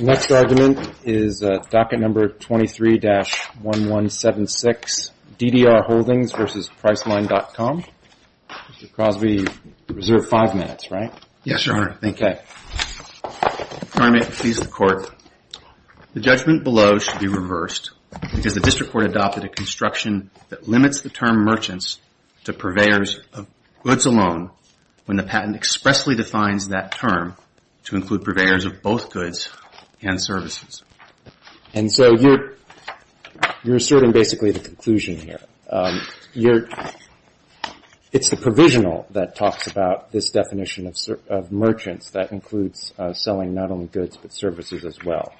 Next argument is docket number 23-1176, DDR Holdings v. Priceline.com Mr. Crosby, you reserve five minutes, right? Yes, Your Honor. Okay. Your Honor, may it please the Court, the judgment below should be reversed because the District Court adopted a construction that limits the term merchants to purveyors of goods alone when the patent expressly defines that term to include purveyors of both goods and services. And so you're asserting basically the conclusion here. It's the provisional that talks about this definition of merchants that includes selling not only goods but services as well.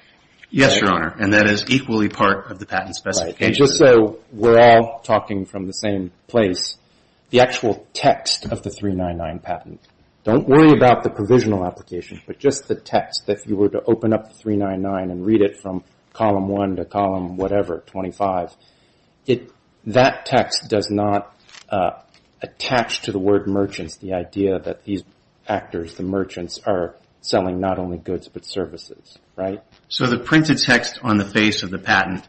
Yes, Your Honor, and that is equally part of the patent specification. Just so we're all talking from the same place, the actual text of the 399 patent, don't worry about the provisional application, but just the text. If you were to open up 399 and read it from column 1 to column whatever, 25, that text does not attach to the word merchants, the idea that these actors, the merchants, are selling not only goods but services, right? So the printed text on the face of the patent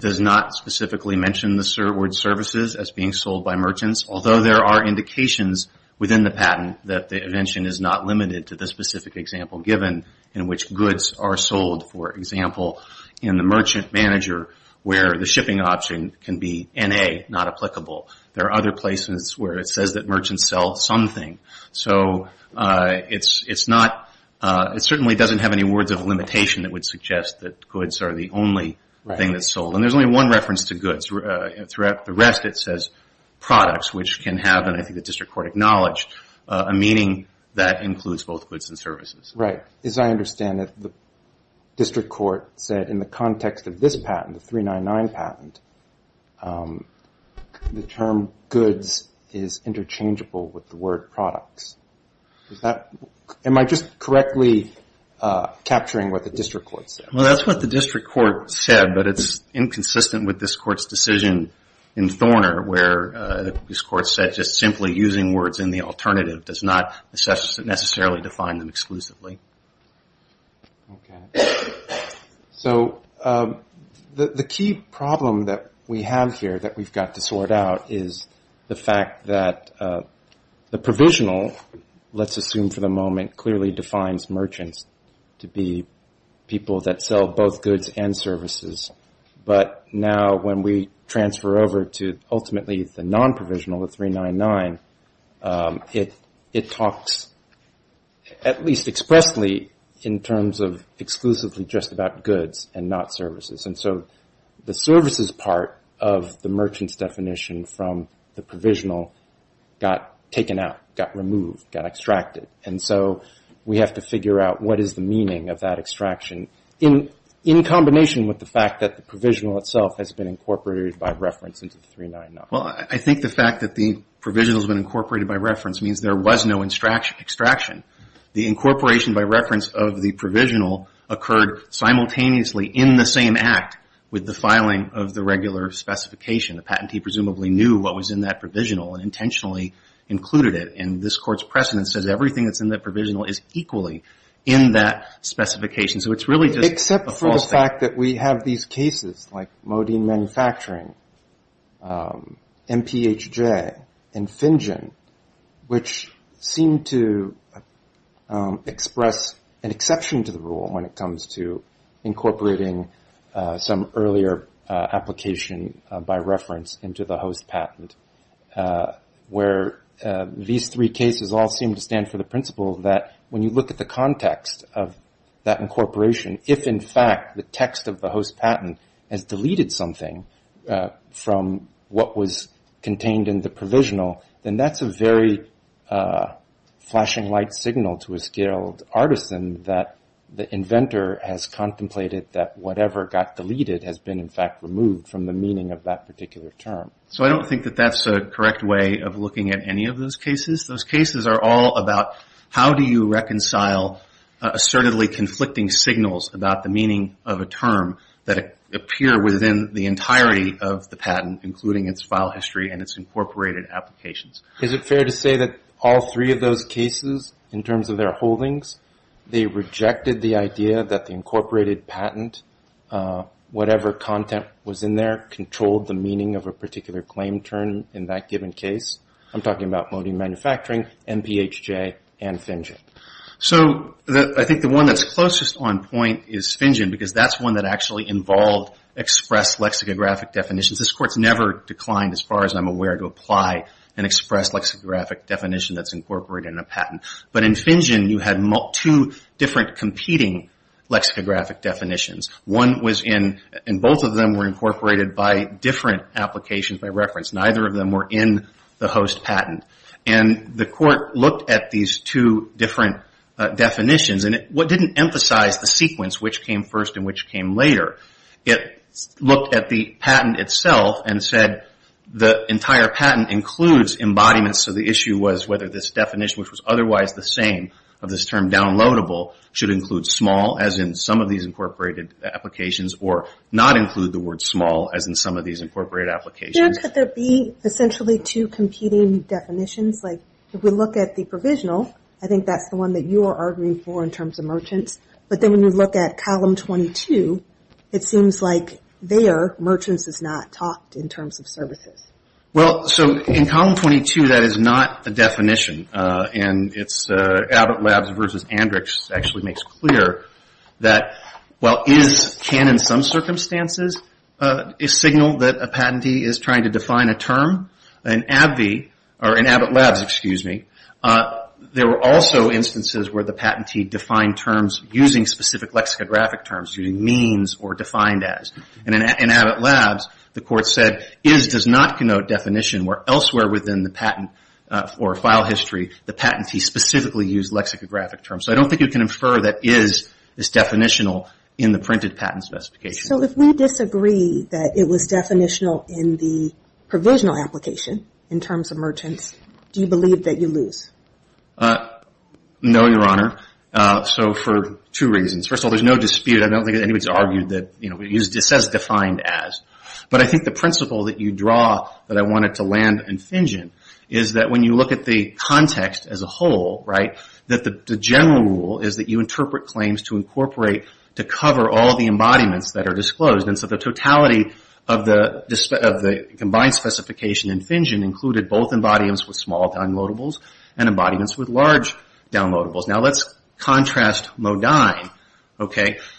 does not specifically mention the word services as being sold by merchants, although there are indications within the patent that the invention is not limited to the specific example given in which goods are sold. For example, in the merchant manager where the shipping option can be N.A., not applicable. There are other places where it says that merchants sell something. So it's not, it certainly doesn't have any words of limitation that would suggest that goods are the only thing that's sold. And there's only one reference to goods. Throughout the rest it says products, which can have, and I think the District Court acknowledged, a meaning that includes both goods and services. Right. As I understand it, the District Court said in the context of this patent, the 399 patent, the term goods is interchangeable with the word products. Is that, am I just correctly capturing what the District Court said? Well, that's what the District Court said, but it's inconsistent with this Court's decision in Thorner where this Court said just simply using words in the alternative does not necessarily define them exclusively. So the key problem that we have here that we've got to sort out is the fact that the 399 defines merchants to be people that sell both goods and services. But now when we transfer over to ultimately the non-provisional, the 399, it talks at least expressly in terms of exclusively just about goods and not services. And so the services part of the merchant's definition from the provisional got taken out, got removed, got extracted. And so we have to figure out what is the meaning of that extraction in combination with the fact that the provisional itself has been incorporated by reference into the 399. Well, I think the fact that the provisional has been incorporated by reference means there was no extraction. The incorporation by reference of the provisional occurred simultaneously in the same act with the filing of the regular specification. The patentee presumably knew what was in that provisional and intentionally included it. And this Court's precedent says everything that's in that provisional is equally in that specification. So it's really just a false fact. Except for the fact that we have these cases like Modine Manufacturing, MPHJ, and Finjen, which seem to express an exception to the rule when it comes to incorporating some earlier application by reference into the host patent, where these three cases all seem to stand for the principle that when you look at the context of that incorporation, if in fact the text of the host patent has deleted something from what was contained in the provisional, then that's a very flashing light signal to a skilled artisan that the inventor has contemplated that whatever got deleted has been in fact removed from the meaning of that particular term. So I don't think that that's a correct way of looking at any of those cases. Those cases are all about how do you reconcile assertively conflicting signals about the meaning of a term that appear within the entirety of the patent, including its file history and its incorporated applications. Is it fair to say that all three of those cases, in terms of their holdings, they rejected the idea that the incorporated patent, whatever content was in there, controlled the meaning of a particular claim term in that given case? I'm talking about Modine Manufacturing. MPHJ and Fingen. So I think the one that's closest on point is Fingen because that's one that actually involved express lexicographic definitions. This Court's never declined, as far as I'm aware, to apply an express lexicographic definition that's incorporated in a patent. But in Fingen you had two different competing lexicographic definitions. One was in, and both of them were incorporated by different applications by reference. Neither of them were in the patent. The Court looked at these two different definitions and it didn't emphasize the sequence, which came first and which came later. It looked at the patent itself and said the entire patent includes embodiments. So the issue was whether this definition, which was otherwise the same of this term downloadable, should include small, as in some of these incorporated applications, or not include the word small, as in some of these incorporated applications. Could there be essentially two competing definitions? If we look at the provisional, I think that's the one that you are arguing for in terms of merchants. But then when you look at Column 22, it seems like there merchants is not talked in terms of services. Well, so in Column 22 that is not the definition. And it's Abbott Labs versus Andrix actually makes clear that while is can, in some circumstances, signal that a patentee is trying to define a term, in Abbott Labs there were also instances where the patentee defined terms using specific lexicographic terms, using means or defined as. And in Abbott Labs the Court said is does not connote definition where elsewhere within the patent or file history the patentee specifically used lexicographic terms. So I don't think you can infer that is this definitional in the printed patent specification. So if we disagree that it was definitional in the provisional application in terms of merchants, do you believe that you lose? No, Your Honor. So for two reasons. First of all, there is no dispute. I don't think anybody has argued that it says defined as. But I think the principle that you draw that I wanted to land in Fingen is that when you look at the context as a whole, that the general rule is that you interpret claims to incorporate to cover all the embodiments that are disclosed. And so the totality of the combined specification in Fingen included both embodiments with small downloadables and embodiments with large downloadables. Now let's contrast Modine,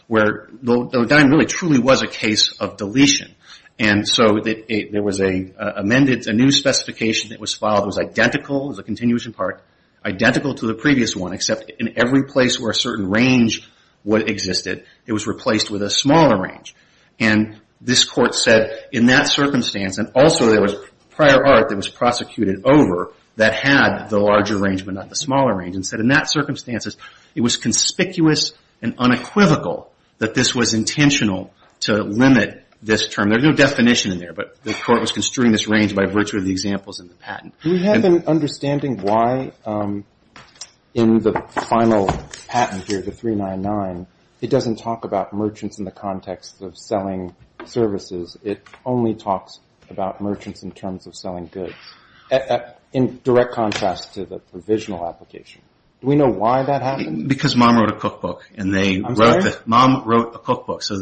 where Modine really truly was a case of deletion. And so there was a new specification that was filed that was identical, as a continuation part, identical to the previous one except in every place where a certain range existed, it was replaced with a smaller range. And this Court said in that circumstance, and also there was prior art that was prosecuted over that had the larger range but not the smaller range, and said in that circumstances it was conspicuous and unequivocal that this was intentional to limit this term. There's no definition in there, but the Court was construing this range by virtue of the examples in the patent. We have an understanding why in the final patent here, the 399, it doesn't talk about merchants in the context of selling services. It only talks about merchants in terms of selling goods, in direct contrast to the provisional application. Do we know why that happened? Because mom wrote a cookbook. Mom wrote a cookbook. Two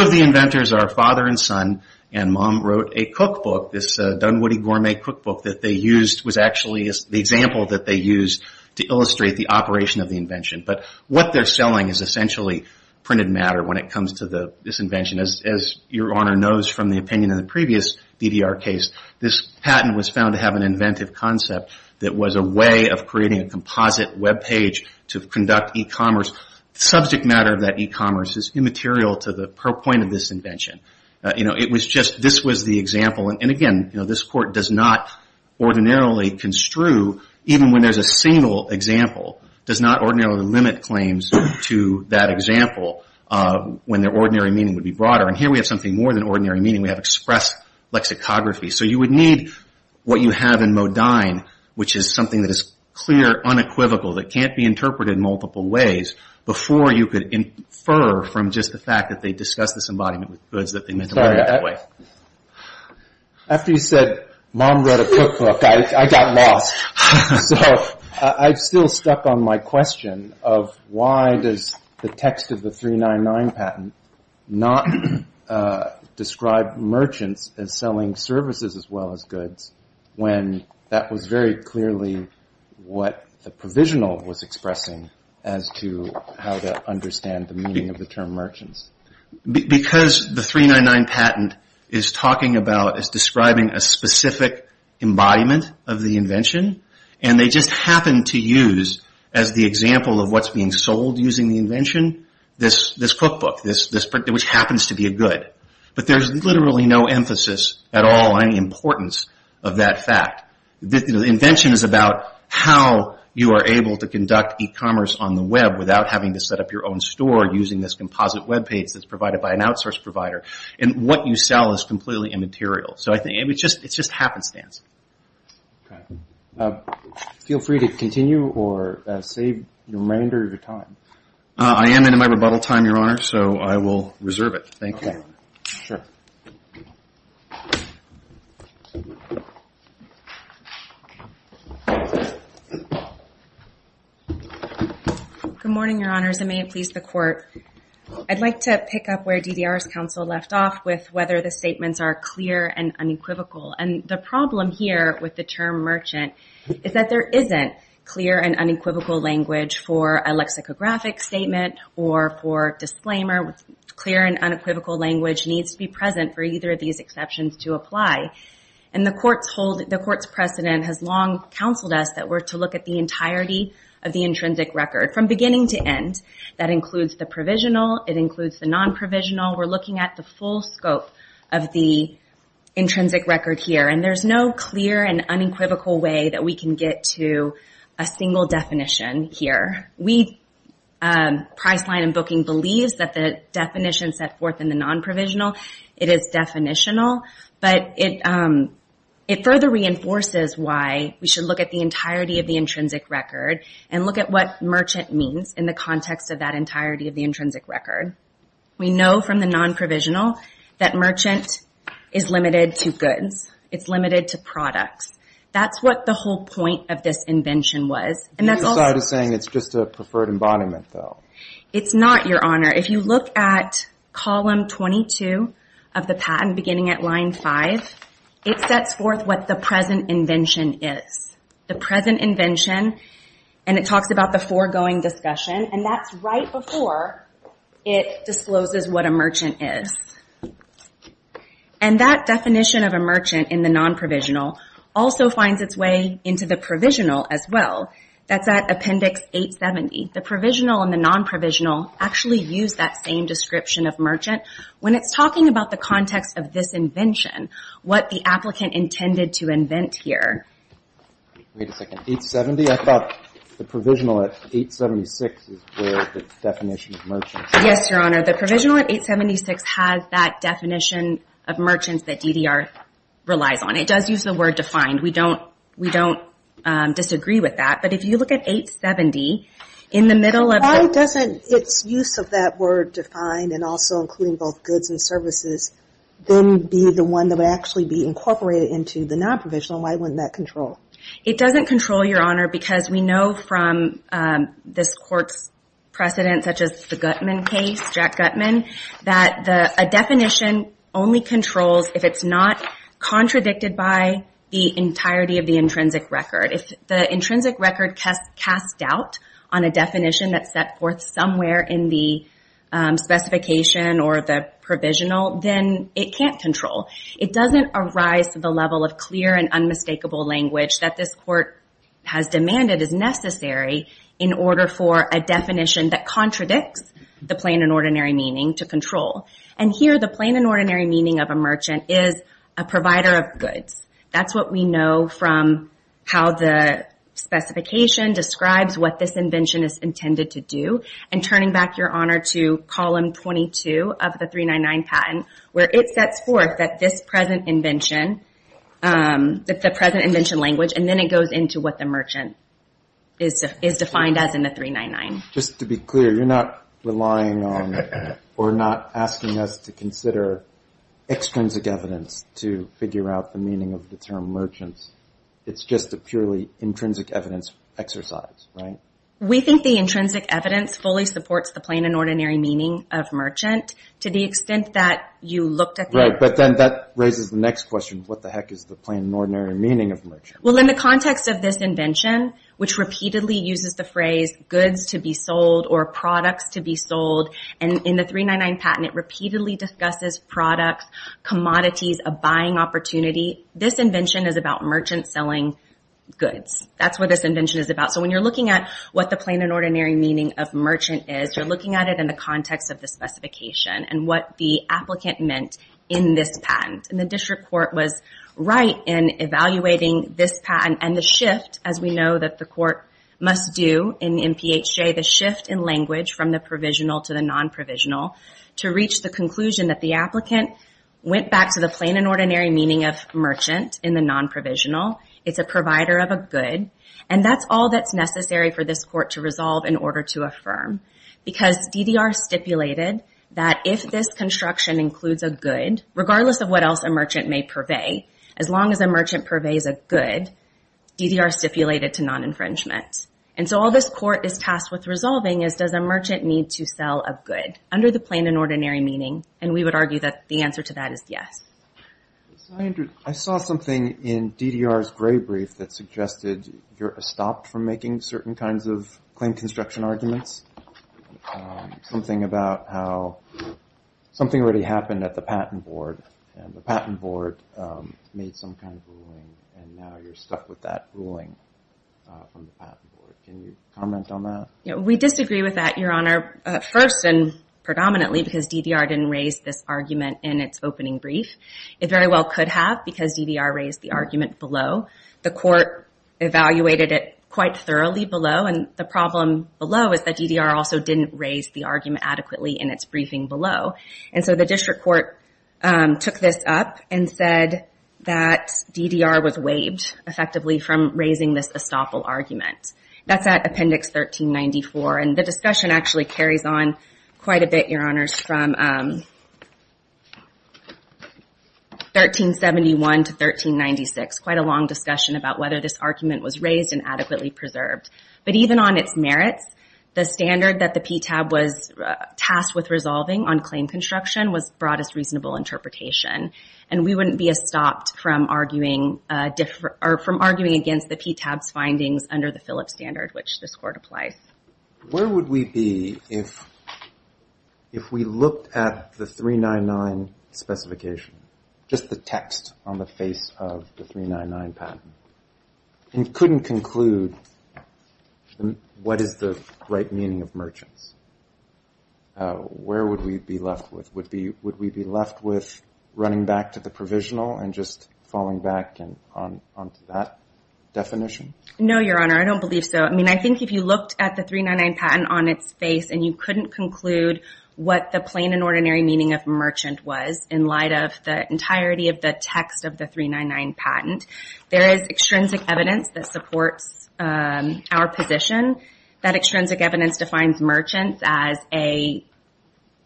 of the inventors are father and son, and mom wrote a cookbook, this Dunwoody Gourmet cookbook that they used was actually the example that they used to illustrate the operation of the invention. But what they're selling is essentially printed matter when it comes to this invention. As your Honor knows from the opinion in the previous DDR case, this patent was found to have an inventive concept that was a way of creating a composite web page to conduct e-commerce. The subject matter of that e-commerce is immaterial to the purpoint of this invention. It was just this was the example, and again, this Court does not ordinarily construe, even when there's a single example, does not ordinarily limit claims to that example when their ordinary meaning would be broader. And here we have something more than ordinary meaning. We have express lexicography. So you would need what you have in Modine, which is something that is clear, unequivocal, that can't be interpreted in multiple ways, before you could infer from just the fact that they discussed this embodiment with goods that they meant to market that way. After you said mom wrote a cookbook, I got lost. So I'm still stuck on my question of why does the text of the 399 patent not describe merchants as selling services as well as goods, when that was very clearly what the provisional was expressing as to how to understand the meaning of the term merchants. Because the 399 patent is talking about, is describing a specific embodiment of the invention, and they just happen to use, as the example of what's being sold using the invention, this cookbook, which happens to be a good. But there's literally no emphasis at all on the importance of that fact. The invention is about how you are able to conduct e-commerce on the web without having to set up your own store using this composite web page that's provided by an outsource provider. And what you sell is completely immaterial. So I think it's just happenstance. Feel free to continue or save the remainder of your time. I am in my rebuttal time, Your Honor, so I will reserve it. Thank you. Good morning, Your Honors, and may it please the Court. I'd like to pick up where DDR's counsel left off with whether the statements are clear and unequivocal. And the problem here with the term merchant is that there isn't clear and unequivocal language for a single definition. And the court's precedent has long counseled us that we're to look at the entirety of the intrinsic record from beginning to end. That includes the provisional. It includes the non-provisional. We're looking at the full scope of the intrinsic record here. And there's no clear and unequivocal way that we can get to a single definition here. We, Priceline and Booking, believe that the definition set forth in the non-provisional, it is definitional. But it further reinforces why we should look at the entirety of the intrinsic record and look at what merchant means in the context of that entirety of the intrinsic record. We know from the non-provisional that merchant is limited to goods. It's limited to products. That's what the whole point of this invention was. The other side is saying it's just a preferred embodiment, though. It's not, Your Honor. If you look at column 22 of the patent beginning at line 5, it sets forth what the present invention is. The present invention, and it talks about the foregoing discussion, and that's right before it discloses what a merchant is. And that definition of merchant, that's at Appendix 870. The provisional and the non-provisional actually use that same description of merchant when it's talking about the context of this invention, what the applicant intended to invent here. Wait a second. 870? I thought the provisional at 876 is where the definition of merchant is. Yes, Your Honor. The provisional at 876 has that definition of merchants that DDR relies on. It does use the word defined. We don't disagree with that. But if you look at 870, in the middle of the... Why doesn't its use of that word defined, and also including both goods and services, then be the one that would actually be incorporated into the non-provisional? Why wouldn't that control? It doesn't control, Your Honor, because we know from this Court's precedent, such as the Gutman case, Jack Gutman, that a definition only controls if it's not contradicted by the entirety of the intrinsic record. If the intrinsic record casts doubt on a definition that's set forth somewhere in the specification or the provisional, then it can't control. It doesn't arise to the level of clear and unmistakable language that this Court has the plain and ordinary meaning to control. And here, the plain and ordinary meaning of a merchant is a provider of goods. That's what we know from how the specification describes what this invention is intended to do. And turning back, Your Honor, to Column 22 of the 399 Patent, where it sets forth that this present invention, that the present invention language, and then it goes into what the merchant is defined as in the 399. Just to be clear, you're not relying on or not asking us to consider extrinsic evidence to figure out the meaning of the term merchants. It's just a purely intrinsic evidence exercise, right? We think the intrinsic evidence fully supports the plain and ordinary meaning of merchant to the extent that you looked at the... Right, but then that raises the next question. What the heck is the plain and ordinary meaning of merchant? Well, in the context of this invention, which repeatedly uses the phrase goods to be sold or products to be sold, and in the 399 Patent, it repeatedly discusses products, commodities, a buying opportunity. This invention is about merchants selling goods. That's what this invention is about. So when you're looking at what the plain and ordinary meaning of merchant is, you're looking at it in the context of the specification and what the applicant meant in this patent. The district court was right in evaluating this patent and the shift, as we know that the court must do in MPHJ, the shift in language from the provisional to the non-provisional to reach the conclusion that the applicant went back to the plain and ordinary meaning of merchant in the non-provisional. It's a provider of a good, and that's all that's necessary for this court to resolve in order to affirm. Because DDR stipulated that if this construction includes a good, regardless of what else a merchant may purvey, as long as a merchant purveys a good, DDR stipulated to non-infringement. And so all this court is tasked with resolving is does a merchant need to sell a good under the plain and ordinary meaning? And we would argue that the answer to that is yes. I saw something in DDR's gray brief that suggested you're stopped from making certain kinds of rulings. Something about how something already happened at the patent board and the patent board made some kind of ruling and now you're stuck with that ruling from the patent board. Can you comment on that? We disagree with that, Your Honor, first and predominantly because DDR didn't raise this argument in its opening brief. It very well could have because DDR raised the argument below. The court evaluated it quite thoroughly below and the problem below is that DDR also didn't raise the argument adequately in its briefing below. And so the district court took this up and said that DDR was waived effectively from raising this estoppel argument. That's at Appendix 1394 and the discussion actually carries on quite a bit, Your Honors, from 1371 to 1396. Quite a long discussion about whether this argument was raised and adequately preserved. But even on its merits, the standard that the PTAB was tasked with resolving on claim construction was broadest reasonable interpretation. And we wouldn't be estopped from arguing against the PTAB's findings under the Phillips standard, which this court applies. Where would we be if we looked at the 399 specification, just the text on the face of the 399 patent, and couldn't conclude what is the right meaning of merchants? Where would we be left with? Would we be left with running back to the provisional and just falling back onto that definition? No, Your Honor. I don't believe so. I mean, I think if you looked at the 399 patent on its face and you couldn't conclude what the plain and ordinary meaning of merchant was in light of the entirety of the text of the 399 patent, there is extrinsic evidence that supports our position. That extrinsic evidence defines merchants as a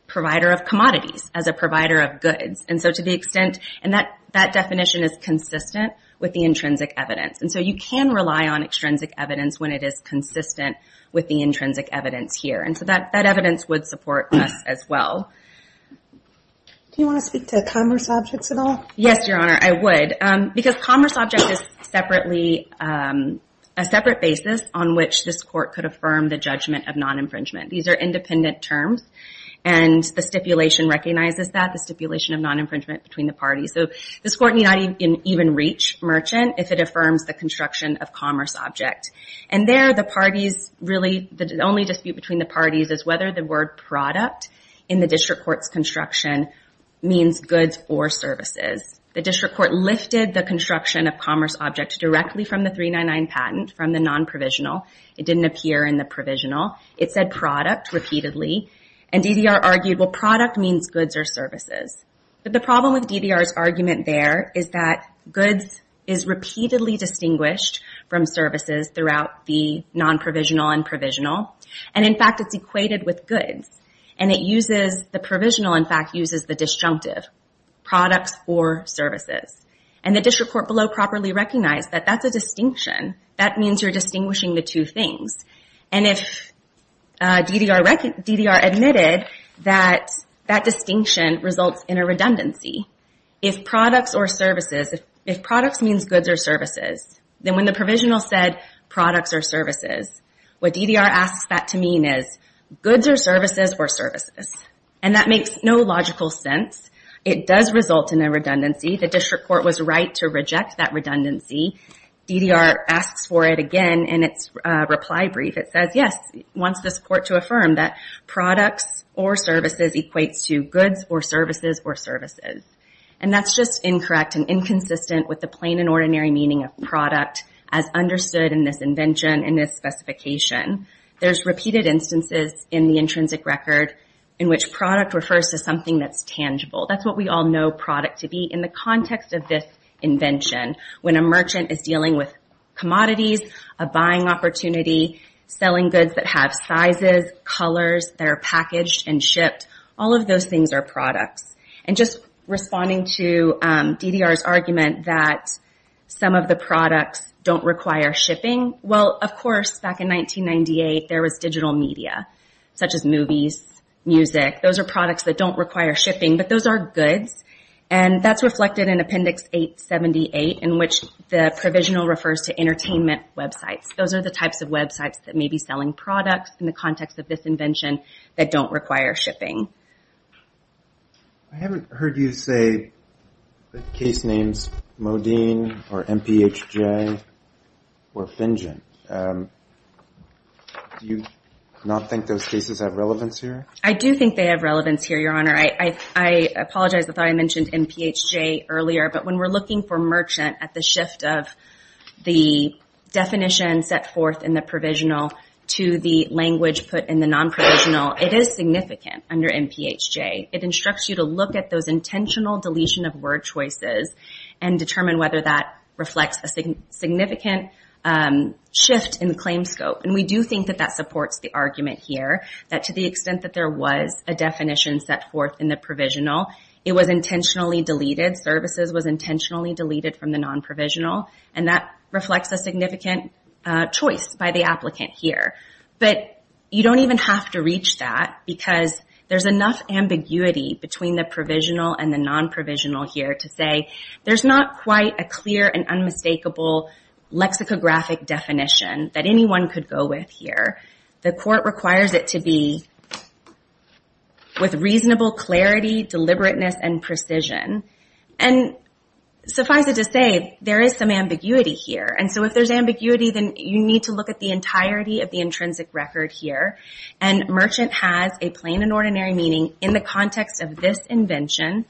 provider of commodities, as a provider of goods. And so to the extent, and that definition is consistent with the intrinsic evidence. And so you can rely on extrinsic evidence when it is consistent with the intrinsic evidence here. And so that evidence would support us as well. Do you want to speak to commerce objects at all? Yes, Your Honor. I would. Because commerce object is separately, a separate basis on which this court could affirm the judgment of non-infringement. These are independent terms and the stipulation recognizes that, the stipulation of non-infringement between the parties. So this court need not even reach merchant if it affirms the construction of commerce object. And there the parties really, the only dispute between the parties is whether the word product in the district court's construction means goods or services. The district court lifted the construction of commerce object directly from the 399 patent from the non-provisional. It didn't appear in the provisional. It said product repeatedly. And DDR argued, well product means goods or services. But the problem with DDR's argument there is that goods is repeatedly distinguished from services throughout the non-provisional and provisional. And in fact it's equated with goods. And it uses, the provisional in fact uses the disjunctive. Products or services. And the district court below properly recognized that that's a distinction. That means you're distinguishing the two things. And if DDR admitted that that distinction results in a redundancy. If products or services, if products means goods or services, then when the provisional said products or services, what DDR asks that to mean is goods or services or services. And that makes no logical sense. It does result in a redundancy. The district court was right to reject that redundancy. DDR asks for it again in its reply brief. It says yes, wants this court to affirm that products or services equates to goods or services or services. And that's just incorrect and inconsistent with the plain and ordinary meaning of product as understood in this invention and this specification. There's repeated instances in the intrinsic record in which product refers to something that's tangible. That's what we all know product to be in the context of this invention. When a merchant is dealing with commodities, a buying opportunity, selling goods that have sizes, colors, that are packaged and shipped, all of those things are products. And just responding to DDR's argument that some of the products don't require shipping, well, of course, back in 1998, there was digital media such as movies, music. Those are products that don't require shipping, but those are goods. And that's reflected in Appendix 878 in which the provisional refers to entertainment websites. Those are the types of websites that may be selling products in the context of this invention that don't require shipping. I haven't heard you say the case names Modine or MPHJ or Finjen. Do you not think those cases have relevance here? I do think they have relevance here, Your Honor. I apologize. I thought I mentioned MPHJ earlier, but when we're looking for merchant at the shift of the definition set forth in the provisional to the language put in the non-provisional, it is significant under MPHJ. It instructs you to look at those intentional deletion of word choices and determine whether that reflects a significant shift in the claim scope. And we do think that that supports the argument here, that to the extent that there was a definition set forth in the provisional, it was intentionally deleted. Services was intentionally deleted from the non-provisional, and that reflects a significant choice by the applicant here. But you don't even have to reach that because there's enough ambiguity between the provisional and the non-provisional here to say there's not quite a clear and unmistakable lexicographic definition that anyone could go with here. The court requires it to be with reasonable clarity, deliberateness, and precision. And suffice it to say, there is some ambiguity here. And so if there's ambiguity, then you need to look at the entirety of the intrinsic record here. And merchant has a plain and ordinary meaning in the context of this invention,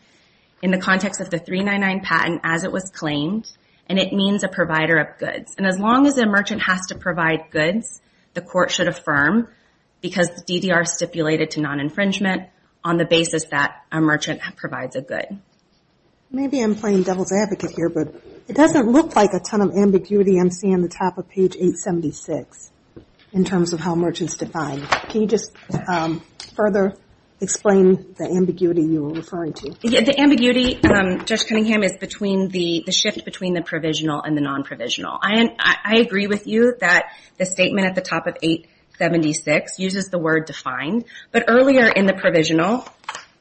in the context of the 399 patent as it was claimed, and it means a provider of goods. And as long as a merchant has to provide goods, the court should affirm because the DDR stipulated to non-infringement on the basis that a merchant provides a good. Maybe I'm playing devil's advocate here, but it doesn't look like a ton of ambiguity I'm seeing at the top of page 876 in terms of how merchants define. Can you just further explain the ambiguity you were referring to? The ambiguity, Judge Cunningham, is between the shift between the provisional and the non-provisional. I agree with you that the statement at the top of 876 uses the word defined, but earlier in the provisional,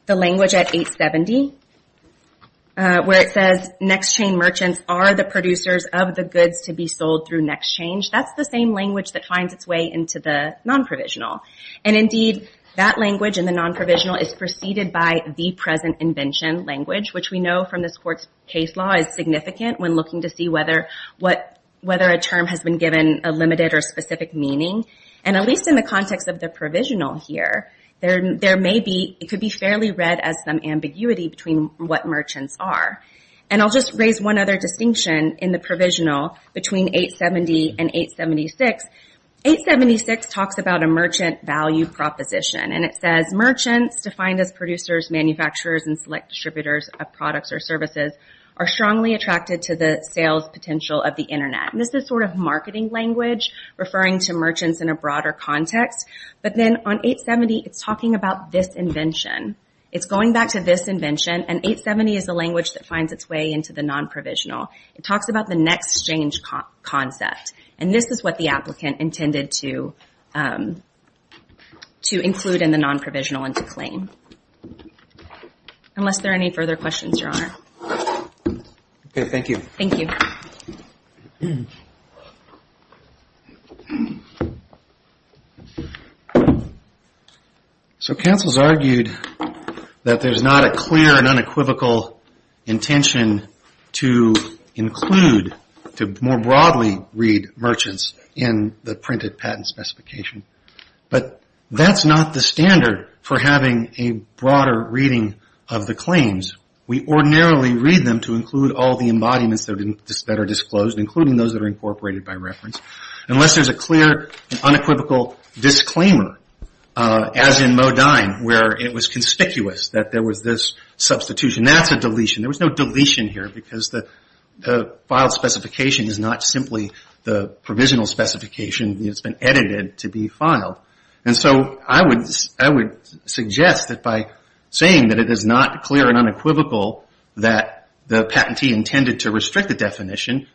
the language at 870, where it says, next chain merchants are the producers of the goods to be sold through next change, that's the same language that finds its way into the non-provisional. And indeed, that language in the non-provisional is preceded by the present invention language, which we know from this court's case law is significant when looking to see whether a term has been given a limited or specific meaning. At least in the context of the provisional here, it could be fairly read as some ambiguity between what merchants are. I'll just raise one other distinction in the provisional between 870 and 876. 876 talks about a merchant value proposition. It says, merchants, defined as producers, manufacturers, and select distributors of products or services, are strongly attracted to the sales potential of the internet. This is sort of marketing language referring to merchants in a broader context, but then on 870, it's talking about this invention. It's going back to this invention, and 870 is the language that finds its way into the non-provisional. It talks about the next change concept, and this is what the applicant intended to include in the non-provisional and to claim. Unless there are any further questions, Your Honor. Okay, thank you. Thank you. So counsel's argued that there's not a clear and unequivocal intention to include, to more broadly read merchants in the printed patent specification, but that's not the standard for having a broader reading of the claims. We ordinarily read them to include all the embodiments that are disclosed, including those that are incorporated by reference. Unless there's a clear and unequivocal disclaimer, as in Modine, where it was conspicuous that there was this substitution, that's a deletion. There was no deletion here because the filed specification is not simply the provisional specification. It's been edited to be filed. So I would suggest that by saying that it is not clear and unequivocal that the patentee intended to restrict the definition,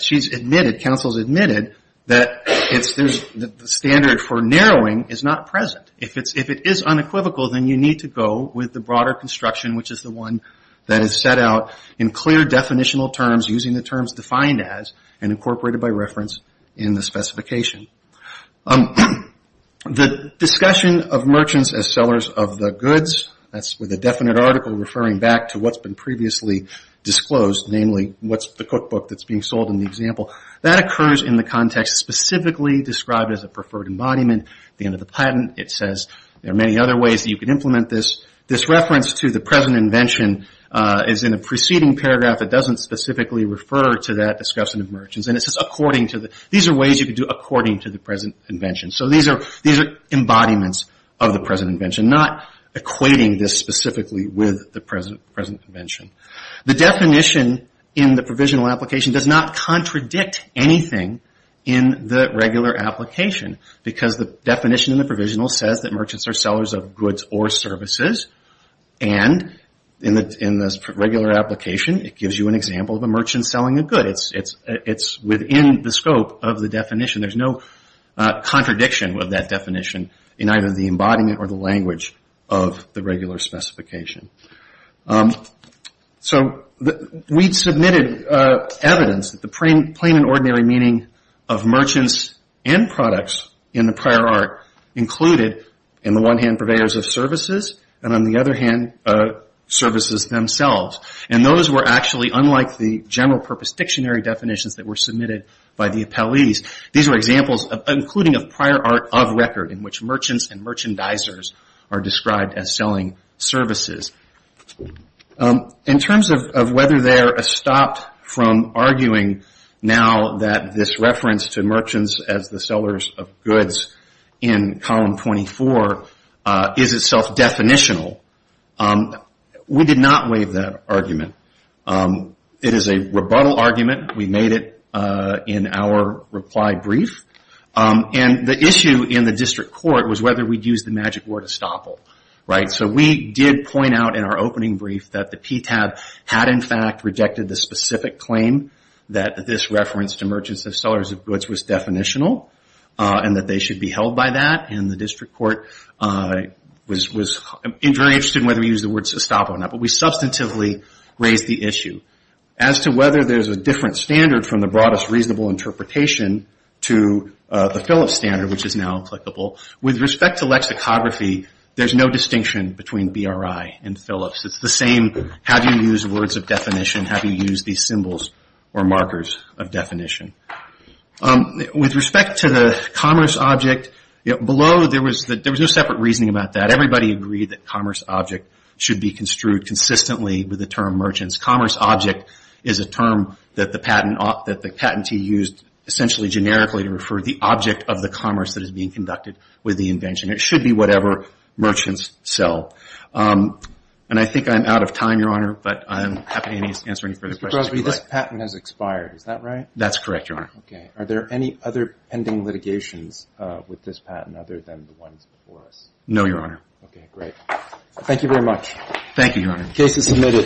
she's admitted, counsel's admitted, that the standard for narrowing is not present. If it is unequivocal, then you need to go with the broader construction, which is the one that is set out in clear definitional terms using the terms defined as and incorporated by reference in the specification. The discussion of merchants as sellers of the goods, that's with a definite article referring back to what's been previously disclosed, namely what's the cookbook that's being sold in the example. That occurs in the context specifically described as a preferred embodiment. At the end of the patent, it says there are many other ways that you can implement this. This reference to the present invention is in a preceding paragraph that doesn't specifically refer to that discussion of merchants. These are ways you can do according to the present invention. So these are embodiments of the present invention, not equating this specifically with the present invention. The definition in the provisional application does not contradict anything in the regular application because the definition in the provisional says that merchants are sellers of goods or services. In the regular application, it gives you an example of a merchant selling a good. It's within the scope of the definition. There's no contradiction with that definition in either the embodiment or the language of the regular specification. We submitted evidence that the plain and ordinary meaning of merchants and products in the prior art included in the one hand purveyors of services and on the other hand services themselves. Those were actually unlike the general purpose dictionary definitions that were submitted by the appellees. These were examples including a prior art of record in which merchants and merchandisers are described as selling services. In terms of whether they're stopped from arguing now that this reference to merchants as the in column 24 is itself definitional, we did not waive that argument. It is a rebuttal argument. We made it in our reply brief. The issue in the district court was whether we used the magic word estoppel. We did point out in our opening brief that the PTAB had in fact rejected the specific claim that this reference to merchants as sellers of goods was definitional and that they should be held by that. The district court was very interested in whether we used the word estoppel or not, but we substantively raised the issue. As to whether there's a different standard from the broadest reasonable interpretation to the Phillips standard, which is now applicable, with respect to lexicography, there's no distinction between BRI and Phillips. It's the same, have you used words of definition, have you used these symbols or markers of definition? With respect to the commerce object, below there was no separate reasoning about that. Everybody agreed that commerce object should be construed consistently with the term merchants. Commerce object is a term that the patentee used essentially generically to refer to the object of the commerce that is being conducted with the invention. It should be whatever merchants sell. I think I'm out of time, Your Honor, but I'm happy to answer any further questions if you'd like. Mr. Crosby, this patent has expired, is that right? That's correct, Your Honor. Okay. Are there any other pending litigations with this patent other than the ones before us? No, Your Honor. Okay, great. Thank you very much. Thank you, Your Honor.